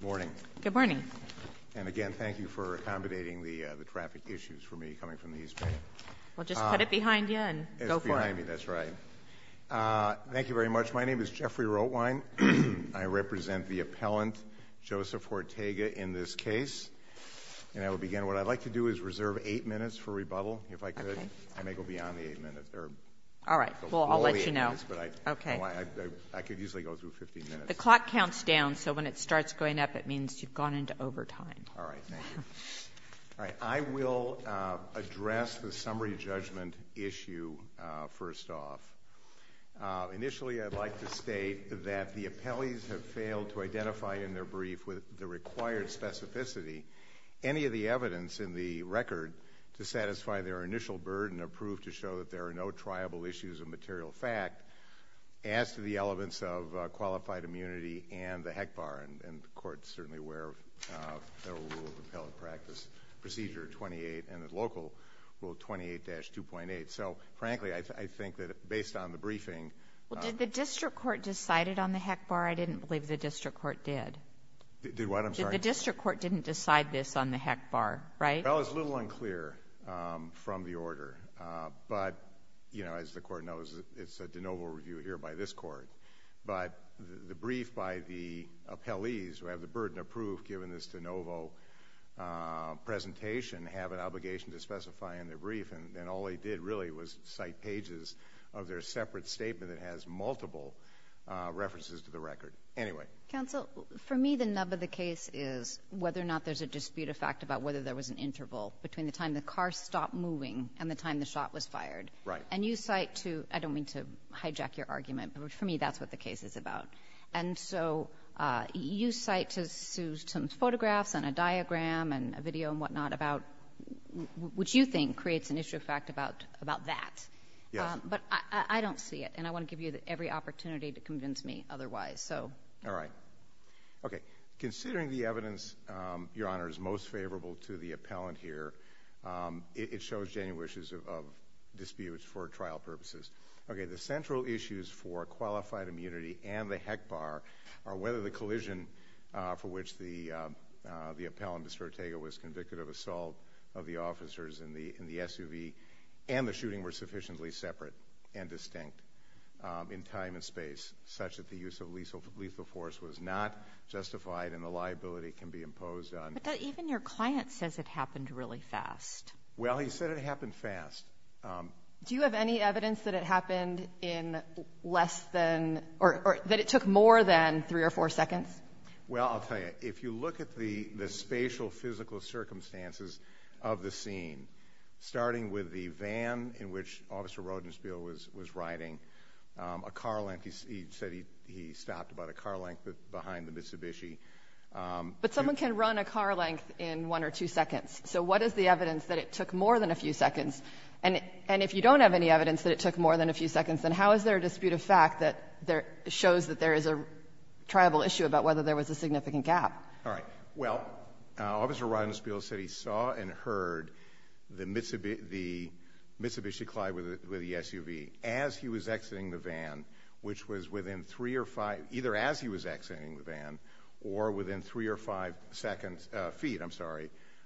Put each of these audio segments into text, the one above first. Good morning. Good morning. And again, thank you for accommodating the traffic issues for me coming from the East Bank. Well, just put it behind you and go for it. It's behind me, that's right. Thank you very much. My name is Jeffrey Rotwein. I represent the appellant, Joseph Ortega, in this case. And I will begin. What I'd like to do is reserve eight minutes for rebuttal, if I could. I may go beyond the eight minutes. All right. Well, I'll let you know. Okay. I could usually go through 15 minutes. The clock counts down, so when it starts going up, it means you've gone into overtime. All right. Thank you. All right. I will address the summary judgment issue first off. Initially, I'd like to state that the appellees have failed to identify in their brief with the required specificity any of the evidence in the record to satisfy their initial burden of proof to show that there are no triable issues of material fact. As to the elements of qualified immunity and the HECBAR, and the Court's certainly aware of the rule of appellate practice, Procedure 28 and the local Rule 28-2.8. So, frankly, I think that based on the briefing ---- Well, did the district court decide it on the HECBAR? I didn't believe the district court did. Did what? I'm sorry. The district court didn't decide this on the HECBAR, right? Well, it's a little unclear from the order. But, you know, as the Court knows, it's a de novo review here by this Court. But the brief by the appellees who have the burden of proof given this de novo presentation have an obligation to specify in their brief, and all they did really was cite pages of their separate statement that has multiple references to the record. Anyway. Counsel, for me, the nub of the case is whether or not there's a dispute of fact about whether there was an interval between the time the car stopped moving and the time the shot was fired. Right. And you cite to ---- I don't mean to hijack your argument, but for me, that's what the case is about. And so you cite to some photographs and a diagram and a video and whatnot about what you think creates an issue of fact about that. Yes. But I don't see it, and I want to give you every opportunity to convince me otherwise. All right. Okay. Well, considering the evidence, Your Honor, is most favorable to the appellant here, it shows genuine issues of disputes for trial purposes. Okay. The central issues for qualified immunity and the HECBAR are whether the collision for which the appellant, Mr. Ortega, was convicted of assault of the officers in the SUV and the shooting were sufficiently separate and distinct in time and space, such that the use of lethal force was not justified and the liability can be imposed on ---- But even your client says it happened really fast. Well, he said it happened fast. Do you have any evidence that it happened in less than or that it took more than three or four seconds? Well, I'll tell you. If you look at the spatial physical circumstances of the scene, starting with the van in which Officer Rodenspiel was riding, a car length, he said he stopped about a car length behind the Mitsubishi. But someone can run a car length in one or two seconds. So what is the evidence that it took more than a few seconds? And if you don't have any evidence that it took more than a few seconds, then how is there a dispute of fact that shows that there is a tribal issue about whether there was a significant gap? All right. Well, Officer Rodenspiel said he saw and heard the Mitsubishi collide with the SUV as he was exiting the van, which was within three or five ---- either as he was exiting the van or within three or five feet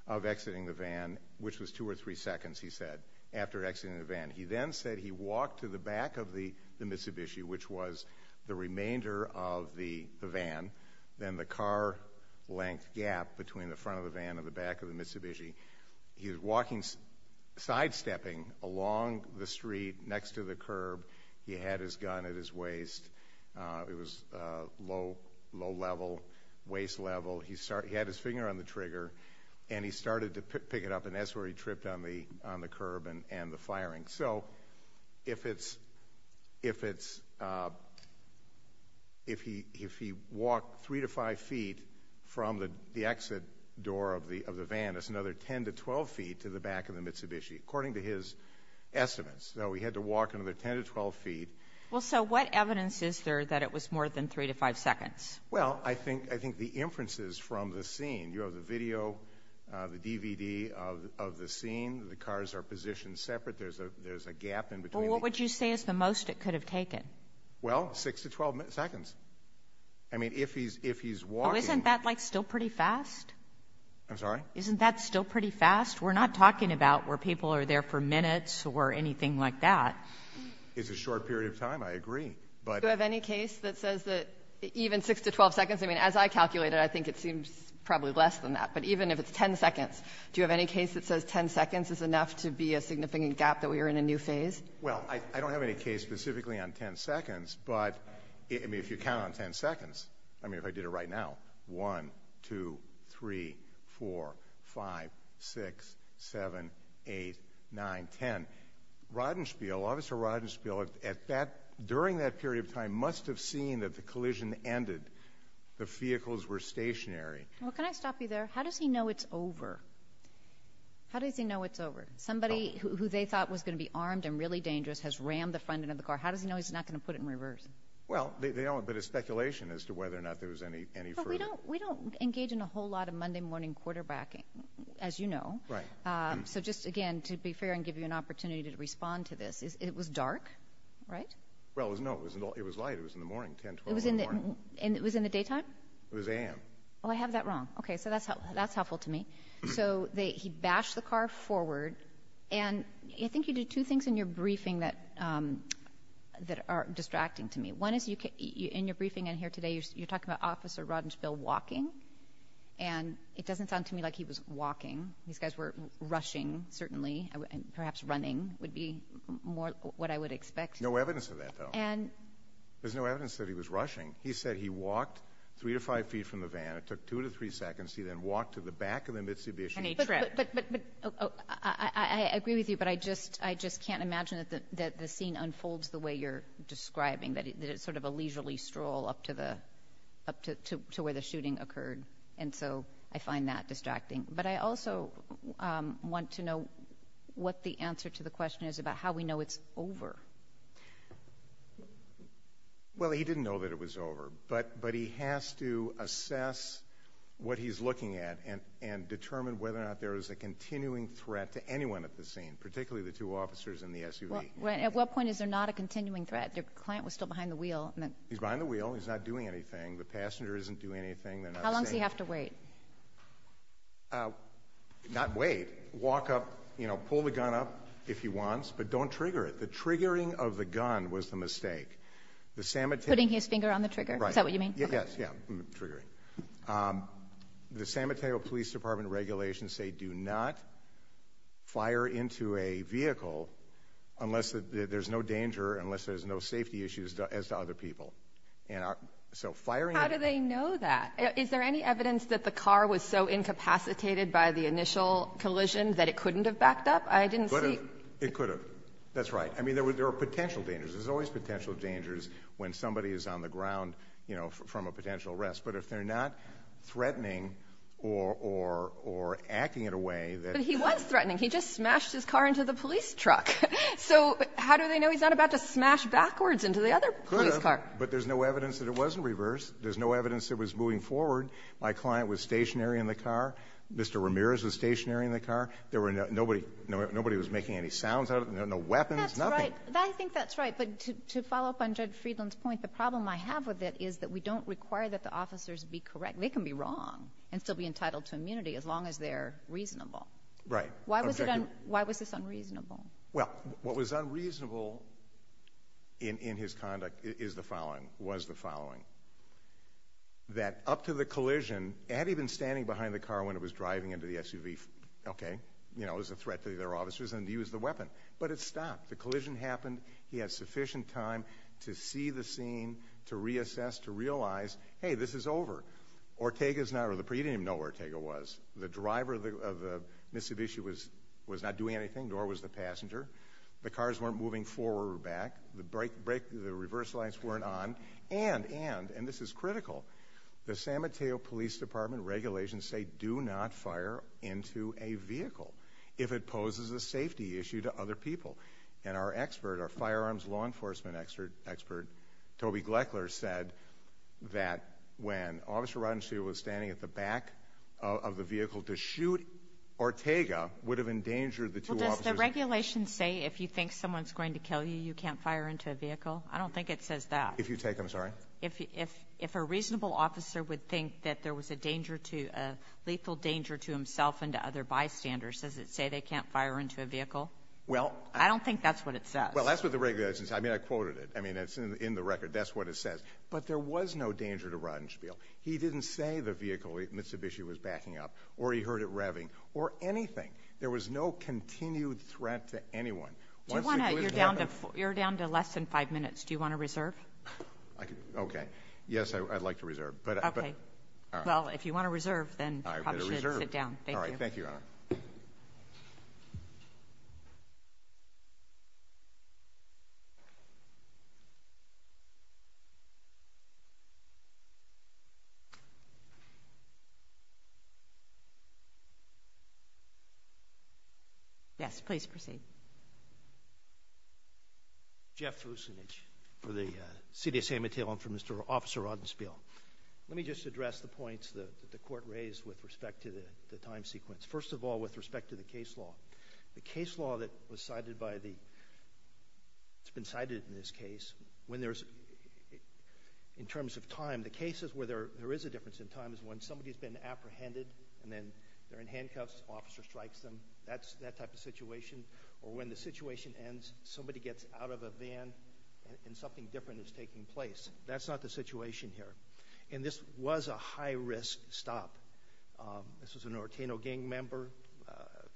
of exiting the van, which was two or three seconds, he said, after exiting the van. He then said he walked to the back of the Mitsubishi, which was the remainder of the van. Then the car length gap between the front of the van and the back of the Mitsubishi. He was walking, sidestepping along the street next to the curb. He had his gun at his waist. It was low level, waist level. He had his finger on the trigger, and he started to pick it up, and that's where he tripped on the curb and the firing. So if he walked three to five feet from the exit door of the van, that's another 10 to 12 feet to the back of the Mitsubishi, according to his estimates. So he had to walk another 10 to 12 feet. Well, so what evidence is there that it was more than three to five seconds? Well, I think the inferences from the scene, you have the video, the DVD of the scene, the cars are positioned separate, there's a gap in between. Well, what would you say is the most it could have taken? Well, six to 12 seconds. I mean, if he's walking. Oh, isn't that, like, still pretty fast? I'm sorry? Isn't that still pretty fast? We're not talking about where people are there for minutes or anything like that. It's a short period of time, I agree. Do you have any case that says that even six to 12 seconds? I mean, as I calculated, I think it seems probably less than that. But even if it's 10 seconds, do you have any case that says 10 seconds is enough to be a significant gap that we are in a new phase? Well, I don't have any case specifically on 10 seconds. But, I mean, if you count on 10 seconds, I mean, if I did it right now, 1, 2, 3, 4, 5, 6, 7, 8, 9, 10. Rodenspiel, Officer Rodenspiel, during that period of time must have seen that the collision ended. The vehicles were stationary. Well, can I stop you there? How does he know it's over? How does he know it's over? Somebody who they thought was going to be armed and really dangerous has rammed the front end of the car. How does he know he's not going to put it in reverse? Well, they don't. But it's speculation as to whether or not there was any further. But we don't engage in a whole lot of Monday morning quarterbacking, as you know. Right. So just, again, to be fair and give you an opportunity to respond to this, it was dark, right? Well, no, it was light. It was in the morning, 10, 12 in the morning. It was in the daytime? It was a.m. Oh, I have that wrong. Okay. So that's helpful to me. So he bashed the car forward. And I think you did two things in your briefing that are distracting to me. One is, in your briefing in here today, you're talking about Officer Rodenspiel walking. And it doesn't sound to me like he was walking. These guys were rushing, certainly, and perhaps running would be more what I would expect. No evidence of that, though. There's no evidence that he was rushing. He said he walked three to five feet from the van. It took two to three seconds. He then walked to the back of the Mitsubishi. And he tripped. But I agree with you, but I just can't imagine that the scene unfolds the way you're describing, that it's sort of a leisurely stroll up to where the shooting occurred. And so I find that distracting. But I also want to know what the answer to the question is about how we know it's over. Well, he didn't know that it was over. But he has to assess what he's looking at and determine whether or not there is a continuing threat to anyone at the scene, particularly the two officers in the SUV. At what point is there not a continuing threat? The client was still behind the wheel. He's behind the wheel. He's not doing anything. The passenger isn't doing anything. How long does he have to wait? Not wait. Walk up, you know, pull the gun up if he wants, but don't trigger it. The triggering of the gun was the mistake. Putting his finger on the trigger? Right. Is that what you mean? Yes. Yeah. Triggering. The San Mateo Police Department regulations say do not fire into a vehicle unless there's no danger, unless there's no safety issues as to other people. And so firing a gun. How do they know that? Is there any evidence that the car was so incapacitated by the initial collision that it couldn't have backed up? I didn't see. It could have. That's right. I mean, there are potential dangers. There's always potential dangers when somebody is on the ground, you know, from a potential arrest. But if they're not threatening or acting in a way that he was threatening, he just smashed his car into the police truck. So how do they know he's not about to smash backwards into the other police car? Could have, but there's no evidence that it wasn't reversed. There's no evidence it was moving forward. My client was stationary in the car. Mr. Ramirez was stationary in the car. Nobody was making any sounds out of it, no weapons, nothing. That's right. I think that's right. But to follow up on Judge Friedland's point, the problem I have with it is that we don't require that the officers be correct. They can be wrong and still be entitled to immunity as long as they're reasonable. Right. Why was this unreasonable? Well, what was unreasonable in his conduct is the following, was the following, that up to the collision, had he been standing behind the car when it was driving into the SUV, okay, you know, as a threat to their officers, and he used the weapon. But it stopped. The collision happened. He had sufficient time to see the scene, to reassess, to realize, hey, this is over. Ortega's not, or you didn't even know where Ortega was. The driver of the Mitsubishi was not doing anything, nor was the passenger. The cars weren't moving forward or back. The reverse lights weren't on. And, and, and this is critical, the San Mateo Police Department regulations say that you do not fire into a vehicle if it poses a safety issue to other people. And our expert, our firearms law enforcement expert, Toby Gleckler, said that when Officer Rodenstein was standing at the back of the vehicle to shoot Ortega would have endangered the two officers. Well, does the regulation say if you think someone's going to kill you, you can't fire into a vehicle? I don't think it says that. If you take them, sorry? If a reasonable officer would think that there was a danger to, a lethal danger to himself and to other bystanders, does it say they can't fire into a vehicle? Well, I don't think that's what it says. Well, that's what the regulation says. I mean, I quoted it. I mean, it's in the record. That's what it says. But there was no danger to Rodenspiel. He didn't say the vehicle, Mitsubishi, was backing up, or he heard it revving, or anything. There was no continued threat to anyone. Do you want to, you're down to, you're down to less than five minutes. Do you want to reserve? Okay. Yes, I'd like to reserve. Okay. All right. Well, if you want to reserve, then I should sit down. Thank you. All right. Thank you, Your Honor. Yes, please proceed. Jeff Vucinich for the CDSA material and for Mr. Officer Rodenspiel. Let me just address the points that the court raised with respect to the time sequence. First of all, with respect to the case law. The case law that was cited by the, it's been cited in this case, when there's, in terms of time, the cases where there is a difference in time is when somebody's been apprehended, and then they're in handcuffs, officer strikes them. That's that type of situation. Or when the situation ends, somebody gets out of a van and something different is taking place. That's not the situation here. And this was a high-risk stop. This was an Orteno gang member,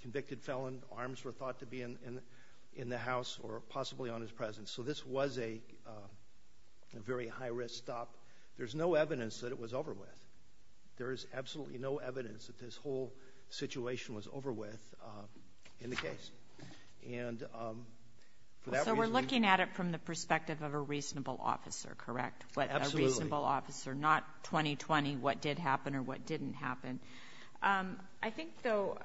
convicted felon. Arms were thought to be in the house or possibly on his presence. So this was a very high-risk stop. There's no evidence that it was over with. There is absolutely no evidence that this whole situation was over with in the case. And for that reason. So we're looking at it from the perspective of a reasonable officer, correct? Absolutely. A reasonable officer, not 20-20 what did happen or what didn't happen. I think, though,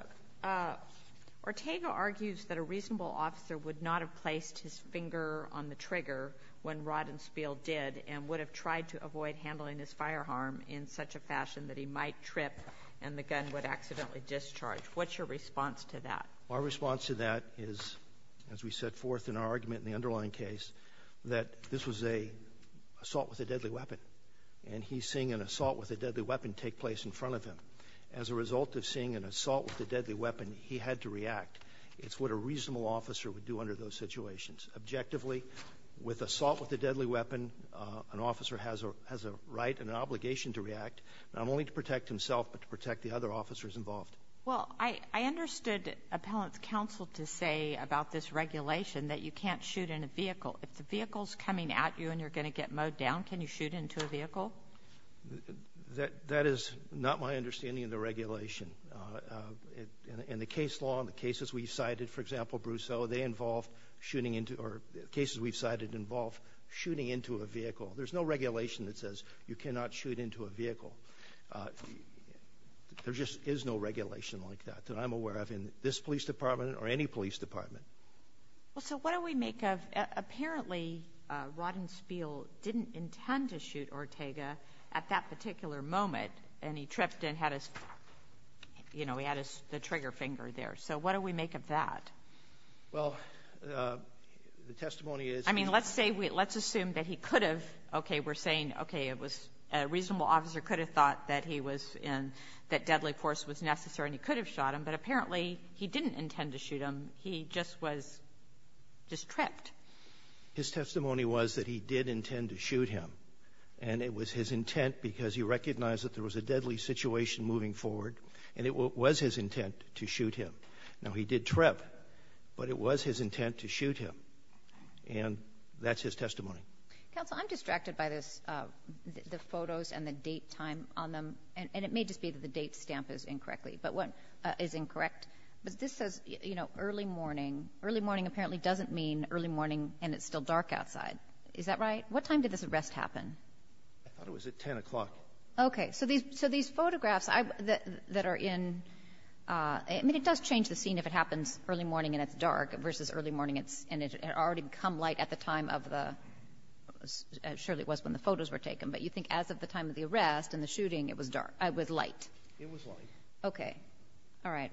Orteno argues that a reasonable officer would not have placed his finger on the trigger when Rodden Spiel did and would have tried to avoid handling his firearm in such a fashion that he might trip and the gun would accidentally discharge. What's your response to that? Our response to that is, as we set forth in our argument in the underlying case, that this was an assault with a deadly weapon. And he's seeing an assault with a deadly weapon take place in front of him. As a result of seeing an assault with a deadly weapon, he had to react. It's what a reasonable officer would do under those situations. Objectively, with assault with a deadly weapon, an officer has a right and an obligation to react, not only to protect himself but to protect the other officers involved. Well, I understood Appellant's counsel to say about this regulation that you can't shoot in a vehicle. If the vehicle is coming at you and you're going to get mowed down, can you shoot into a vehicle? That is not my understanding of the regulation. In the case law and the cases we've cited, for example, Brousseau, they involve shooting into or cases we've cited involve shooting into a vehicle. There's no regulation that says you cannot shoot into a vehicle. There just is no regulation like that that I'm aware of in this police department or any police department. Well, so what do we make of apparently Rodden Spiel didn't intend to shoot Ortega at that particular moment and he tripped and had his, you know, he had the trigger finger there. So what do we make of that? Well, the testimony is he was ---- I mean, let's say, let's assume that he could have. Okay. We're saying, okay, it was a reasonable officer could have thought that he was in, that deadly force was necessary and he could have shot him, but apparently he didn't intend to shoot him. He just was just tripped. His testimony was that he did intend to shoot him. And it was his intent because he recognized that there was a deadly situation moving forward and it was his intent to shoot him. Now, he did trip, but it was his intent to shoot him. And that's his testimony. Counsel, I'm distracted by this, the photos and the date time on them. And it may just be that the date stamp is incorrectly, but what is incorrect, but this says, you know, early morning. Early morning apparently doesn't mean early morning and it's still dark outside. Is that right? What time did this arrest happen? I thought it was at 10 o'clock. Okay. So these photographs that are in, I mean, it does change the scene if it happens early morning and it's dark versus early morning and it had already become light at the time of the ---- surely it was when the photos were taken. But you think as of the time of the arrest and the shooting, it was light. It was light. Okay. All right.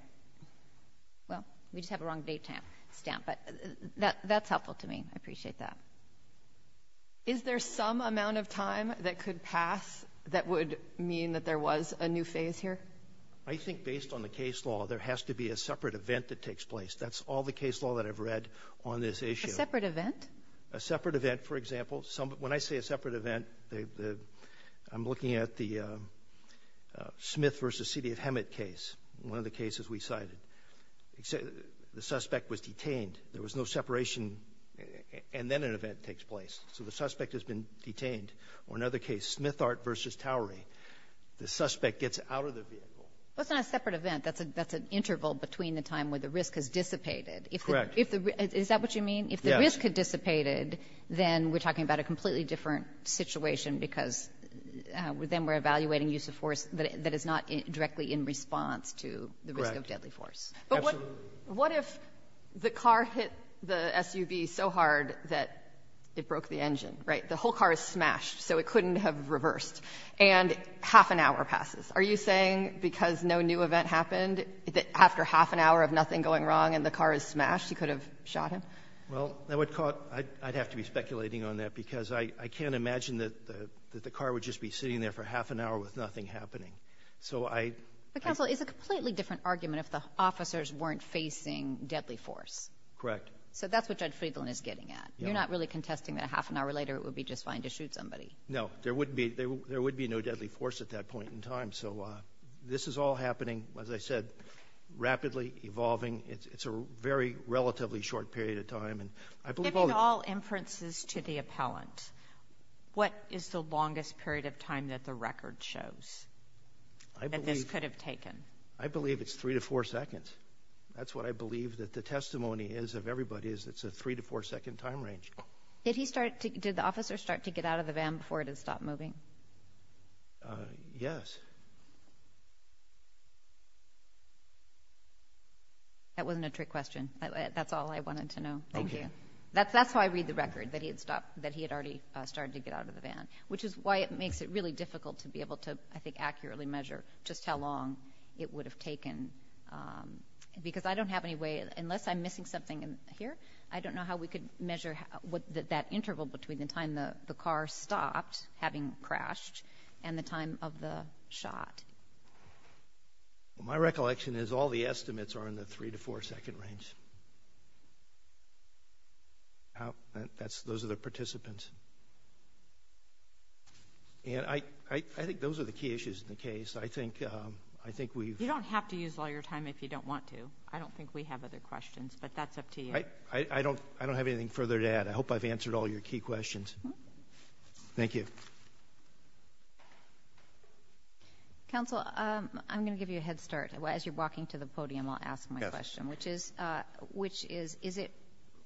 Well, we just have a wrong date stamp. But that's helpful to me. I appreciate that. Is there some amount of time that could pass that would mean that there was a new phase here? I think based on the case law, there has to be a separate event that takes place. That's all the case law that I've read on this issue. A separate event? A separate event, for example. When I say a separate event, I'm looking at the Smith versus City of Hemet case, one of the cases we cited. The suspect was detained. There was no separation. And then an event takes place. So the suspect has been detained. Or another case, Smithart versus Towery. The suspect gets out of the vehicle. Well, it's not a separate event. That's an interval between the time where the risk has dissipated. Correct. Is that what you mean? Yes. If the risk had dissipated, then we're talking about a completely different situation because then we're evaluating use of force that is not directly in response to the risk of deadly force. Correct. Absolutely. What if the car hit the SUV so hard that it broke the engine, right? The whole car is smashed, so it couldn't have reversed. And half an hour passes. Are you saying because no new event happened, that after half an hour of nothing going wrong and the car is smashed, you could have shot him? Well, I'd have to be speculating on that because I can't imagine that the car would just be sitting there for half an hour with nothing happening. But counsel, it's a completely different argument if the officers weren't facing deadly force. Correct. So that's what Judge Friedland is getting at. You're not really contesting that a half an hour later it would be just fine to shoot somebody. No. There would be no deadly force at that point in time. So this is all happening, as I said, rapidly, evolving. It's a very relatively short period of time. And I believe all the – Given all inferences to the appellant, what is the longest period of time that the record shows that this could have taken? I believe it's three to four seconds. That's what I believe that the testimony is of everybody is it's a three to four second time range. Did he start – did the officer start to get out of the van before it had stopped moving? Yes. That wasn't a trick question. That's all I wanted to know. Thank you. That's how I read the record, that he had stopped – that he had already started to get out of the van. Which is why it makes it really difficult to be able to, I think, accurately measure just how long it would have taken. Because I don't have any way – unless I'm missing something here, I don't know how we could measure that interval between the time the car stopped, having crashed, and the time of the shot. My recollection is all the estimates are in the three to four second range. Those are the participants. And I think those are the key issues in the case. I think we've – You don't have to use all your time if you don't want to. I don't think we have other questions. But that's up to you. I don't have anything further to add. I hope I've answered all your key questions. Thank you. Counsel, I'm going to give you a head start. As you're walking to the podium, I'll ask my question. Which is, is it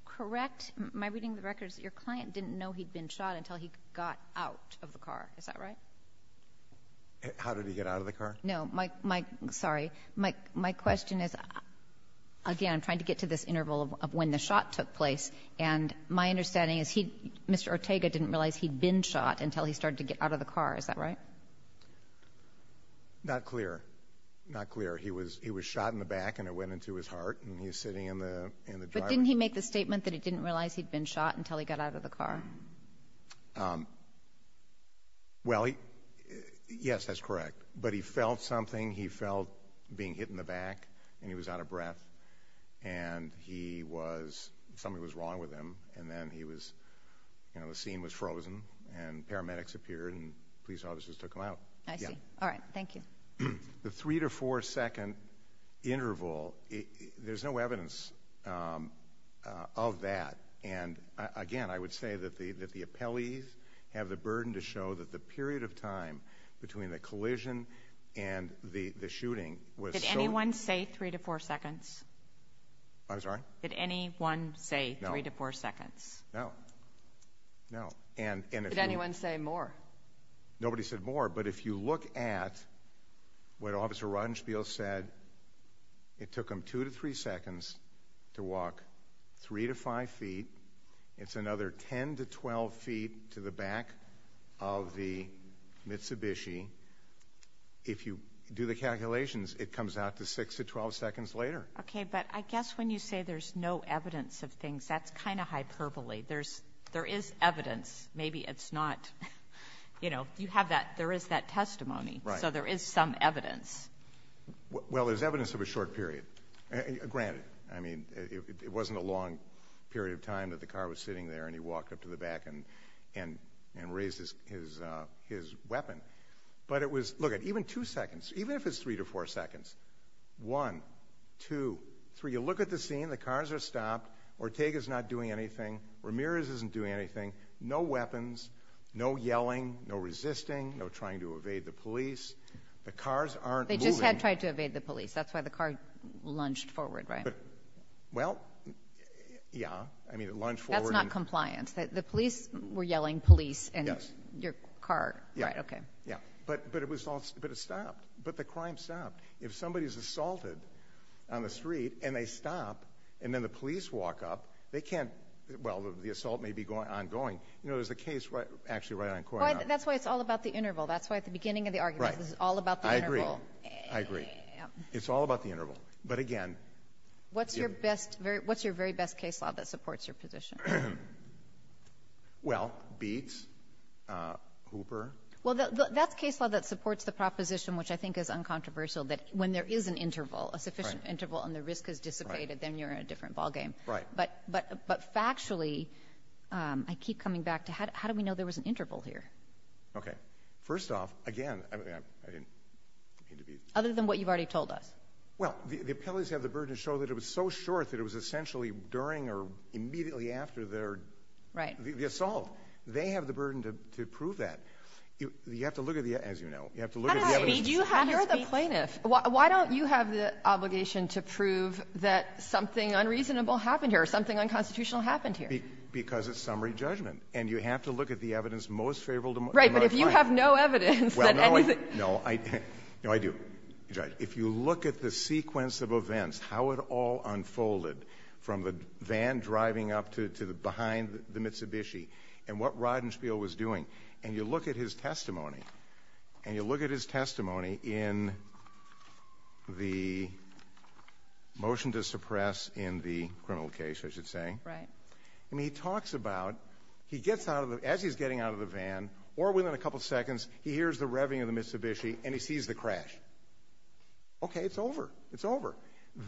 correct, my reading of the record, is that your client didn't know he'd been shot until he got out of the car. Is that right? How did he get out of the car? No. Sorry. My question is, again, I'm trying to get to this interval of when the shot took place. And my understanding is he, Mr. Ortega, didn't realize he'd been shot until he started to get out of the car. Is that right? Not clear. Not clear. He was shot in the back and it went into his heart. And he's sitting in the driver's seat. But didn't he make the statement that he didn't realize he'd been shot until he got out of the car? Well, yes, that's correct. But he felt something. He felt being hit in the back. And he was out of breath. And he was, something was wrong with him. And then he was, you know, the scene was frozen. And paramedics appeared and police officers took him out. I see. All right. Thank you. The three to four second interval, there's no evidence of that. And, again, I would say that the appellees have the burden to show that the period of time between the collision and the shooting was so. Did anyone say three to four seconds? I'm sorry? Did anyone say three to four seconds? No. No. Did anyone say more? Nobody said more. But if you look at what Officer Rodenspiel said, it took him two to three seconds to walk three to five feet. It's another 10 to 12 feet to the back of the Mitsubishi. If you do the calculations, it comes out to six to 12 seconds later. Okay. But I guess when you say there's no evidence of things, that's kind of hyperbole. There is evidence. Maybe it's not, you know, you have that. There is that testimony. Right. So there is some evidence. Well, there's evidence of a short period, granted. I mean, it wasn't a long period of time that the car was sitting there and he walked up to the back and raised his weapon. But it was, look, even two seconds, even if it's three to four seconds, one, two, three, you look at the scene, the cars are stopped, Ortega's not doing anything, Ramirez isn't doing anything, no weapons, no yelling, no resisting, no trying to evade the police. The cars aren't moving. They just had tried to evade the police. That's why the car lunged forward, right? Well, yeah. I mean, it lunged forward. That's not compliance. The police were yelling police and your car. Right. Okay. Yeah. But it stopped. But the crime stopped. If somebody is assaulted on the street and they stop and then the police walk up, they can't, well, the assault may be ongoing. You know, there's a case actually right on Coronado. That's why it's all about the interval. That's why at the beginning of the argument this is all about the interval. Right. I agree. I agree. It's all about the interval. But, again. What's your very best case law that supports your position? Well, beats, Hooper. Well, that's case law that supports the proposition, which I think is uncontroversial, that when there is an interval, a sufficient interval, and the risk is dissipated, then you're in a different ballgame. Right. But factually, I keep coming back to how do we know there was an interval here? Okay. First off, again, I mean, I didn't mean to be — Other than what you've already told us. Well, the appellees have the burden to show that it was so short that it was essentially during or immediately after their — Right. — the assault. They have the burden to prove that. You have to look at the — as you know, you have to look at the evidence. You're the plaintiff. Why don't you have the obligation to prove that something unreasonable happened here or something unconstitutional happened here? Because it's summary judgment. And you have to look at the evidence most favorable to my client. Right. But if you have no evidence that anything — Well, no. No, I do, Judge. If you look at the sequence of events, how it all unfolded from the van driving up to behind the Mitsubishi, and what Rodenspiel was doing, and you look at his testimony, and you look at his testimony in the motion to suppress in the criminal case, I should say. Right. And he talks about — he gets out of the — as he's getting out of the van, or within a couple seconds, he hears the revving of the Mitsubishi, and he sees the crash. Okay. It's over. It's over.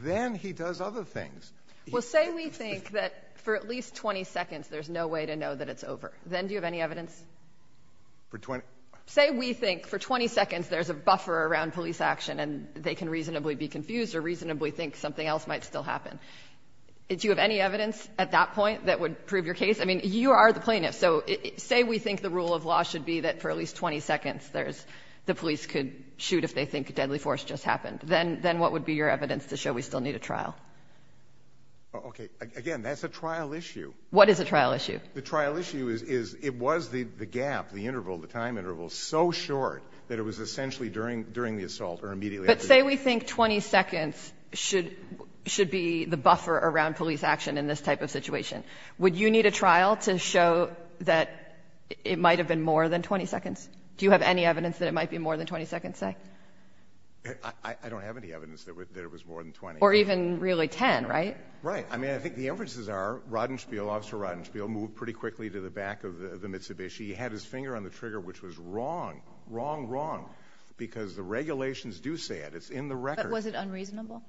Then he does other things. Well, say we think that for at least 20 seconds there's no way to know that it's over. Then do you have any evidence? For 20 — Say we think for 20 seconds there's a buffer around police action, and they can reasonably be confused or reasonably think something else might still happen. Do you have any evidence at that point that would prove your case? I mean, you are the plaintiff. So say we think the rule of law should be that for at least 20 seconds there's — the police could shoot if they think a deadly force just happened. Then what would be your evidence to show we still need a trial? Okay. Again, that's a trial issue. What is a trial issue? The trial issue is it was the gap, the interval, the time interval, so short that it was essentially during the assault or immediately after the assault. If you say we think 20 seconds should be the buffer around police action in this type of situation, would you need a trial to show that it might have been more than 20 seconds? Do you have any evidence that it might be more than 20 seconds, say? I don't have any evidence that it was more than 20. Or even really 10, right? Right. I mean, I think the inferences are Rodenspiel, Officer Rodenspiel, moved pretty quickly to the back of the Mitsubishi. He had his finger on the trigger, which was wrong, wrong, wrong, because the regulations do say it. It's in the record. But was it unreasonable?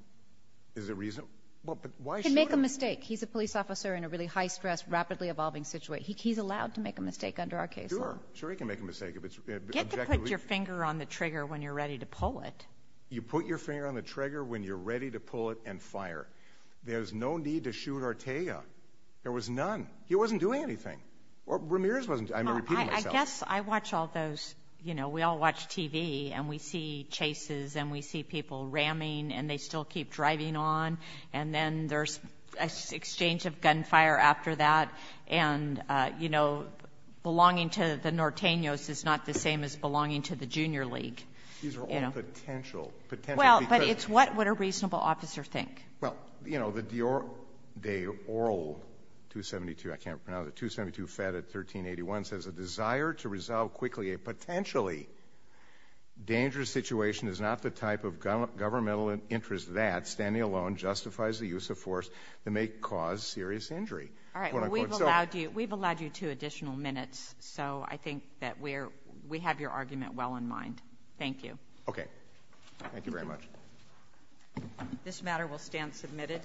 Is it reasonable? Well, but why should it? He can make a mistake. He's a police officer in a really high-stress, rapidly-evolving situation. He's allowed to make a mistake under our case law. Sure. Sure, he can make a mistake if it's objective. You get to put your finger on the trigger when you're ready to pull it. You put your finger on the trigger when you're ready to pull it and fire. There's no need to shoot Ortega. There was none. He wasn't doing anything. Ramirez wasn't. I'm repeating myself. Well, I guess I watch all those, you know, we all watch TV and we see chases and we see people ramming and they still keep driving on, and then there's an exchange of gunfire after that, and, you know, belonging to the Norteños is not the same as belonging to the Junior League. These are all potential. Well, but it's what would a reasonable officer think? Well, you know, the De Orle 272, I can't pronounce it, 272 Fed at 1381 says, a desire to resolve quickly a potentially dangerous situation is not the type of governmental interest that, standing alone, justifies the use of force that may cause serious injury. All right. Well, we've allowed you two additional minutes, so I think that we have your argument well in mind. Thank you. Okay. Thank you very much. This matter will stand submitted.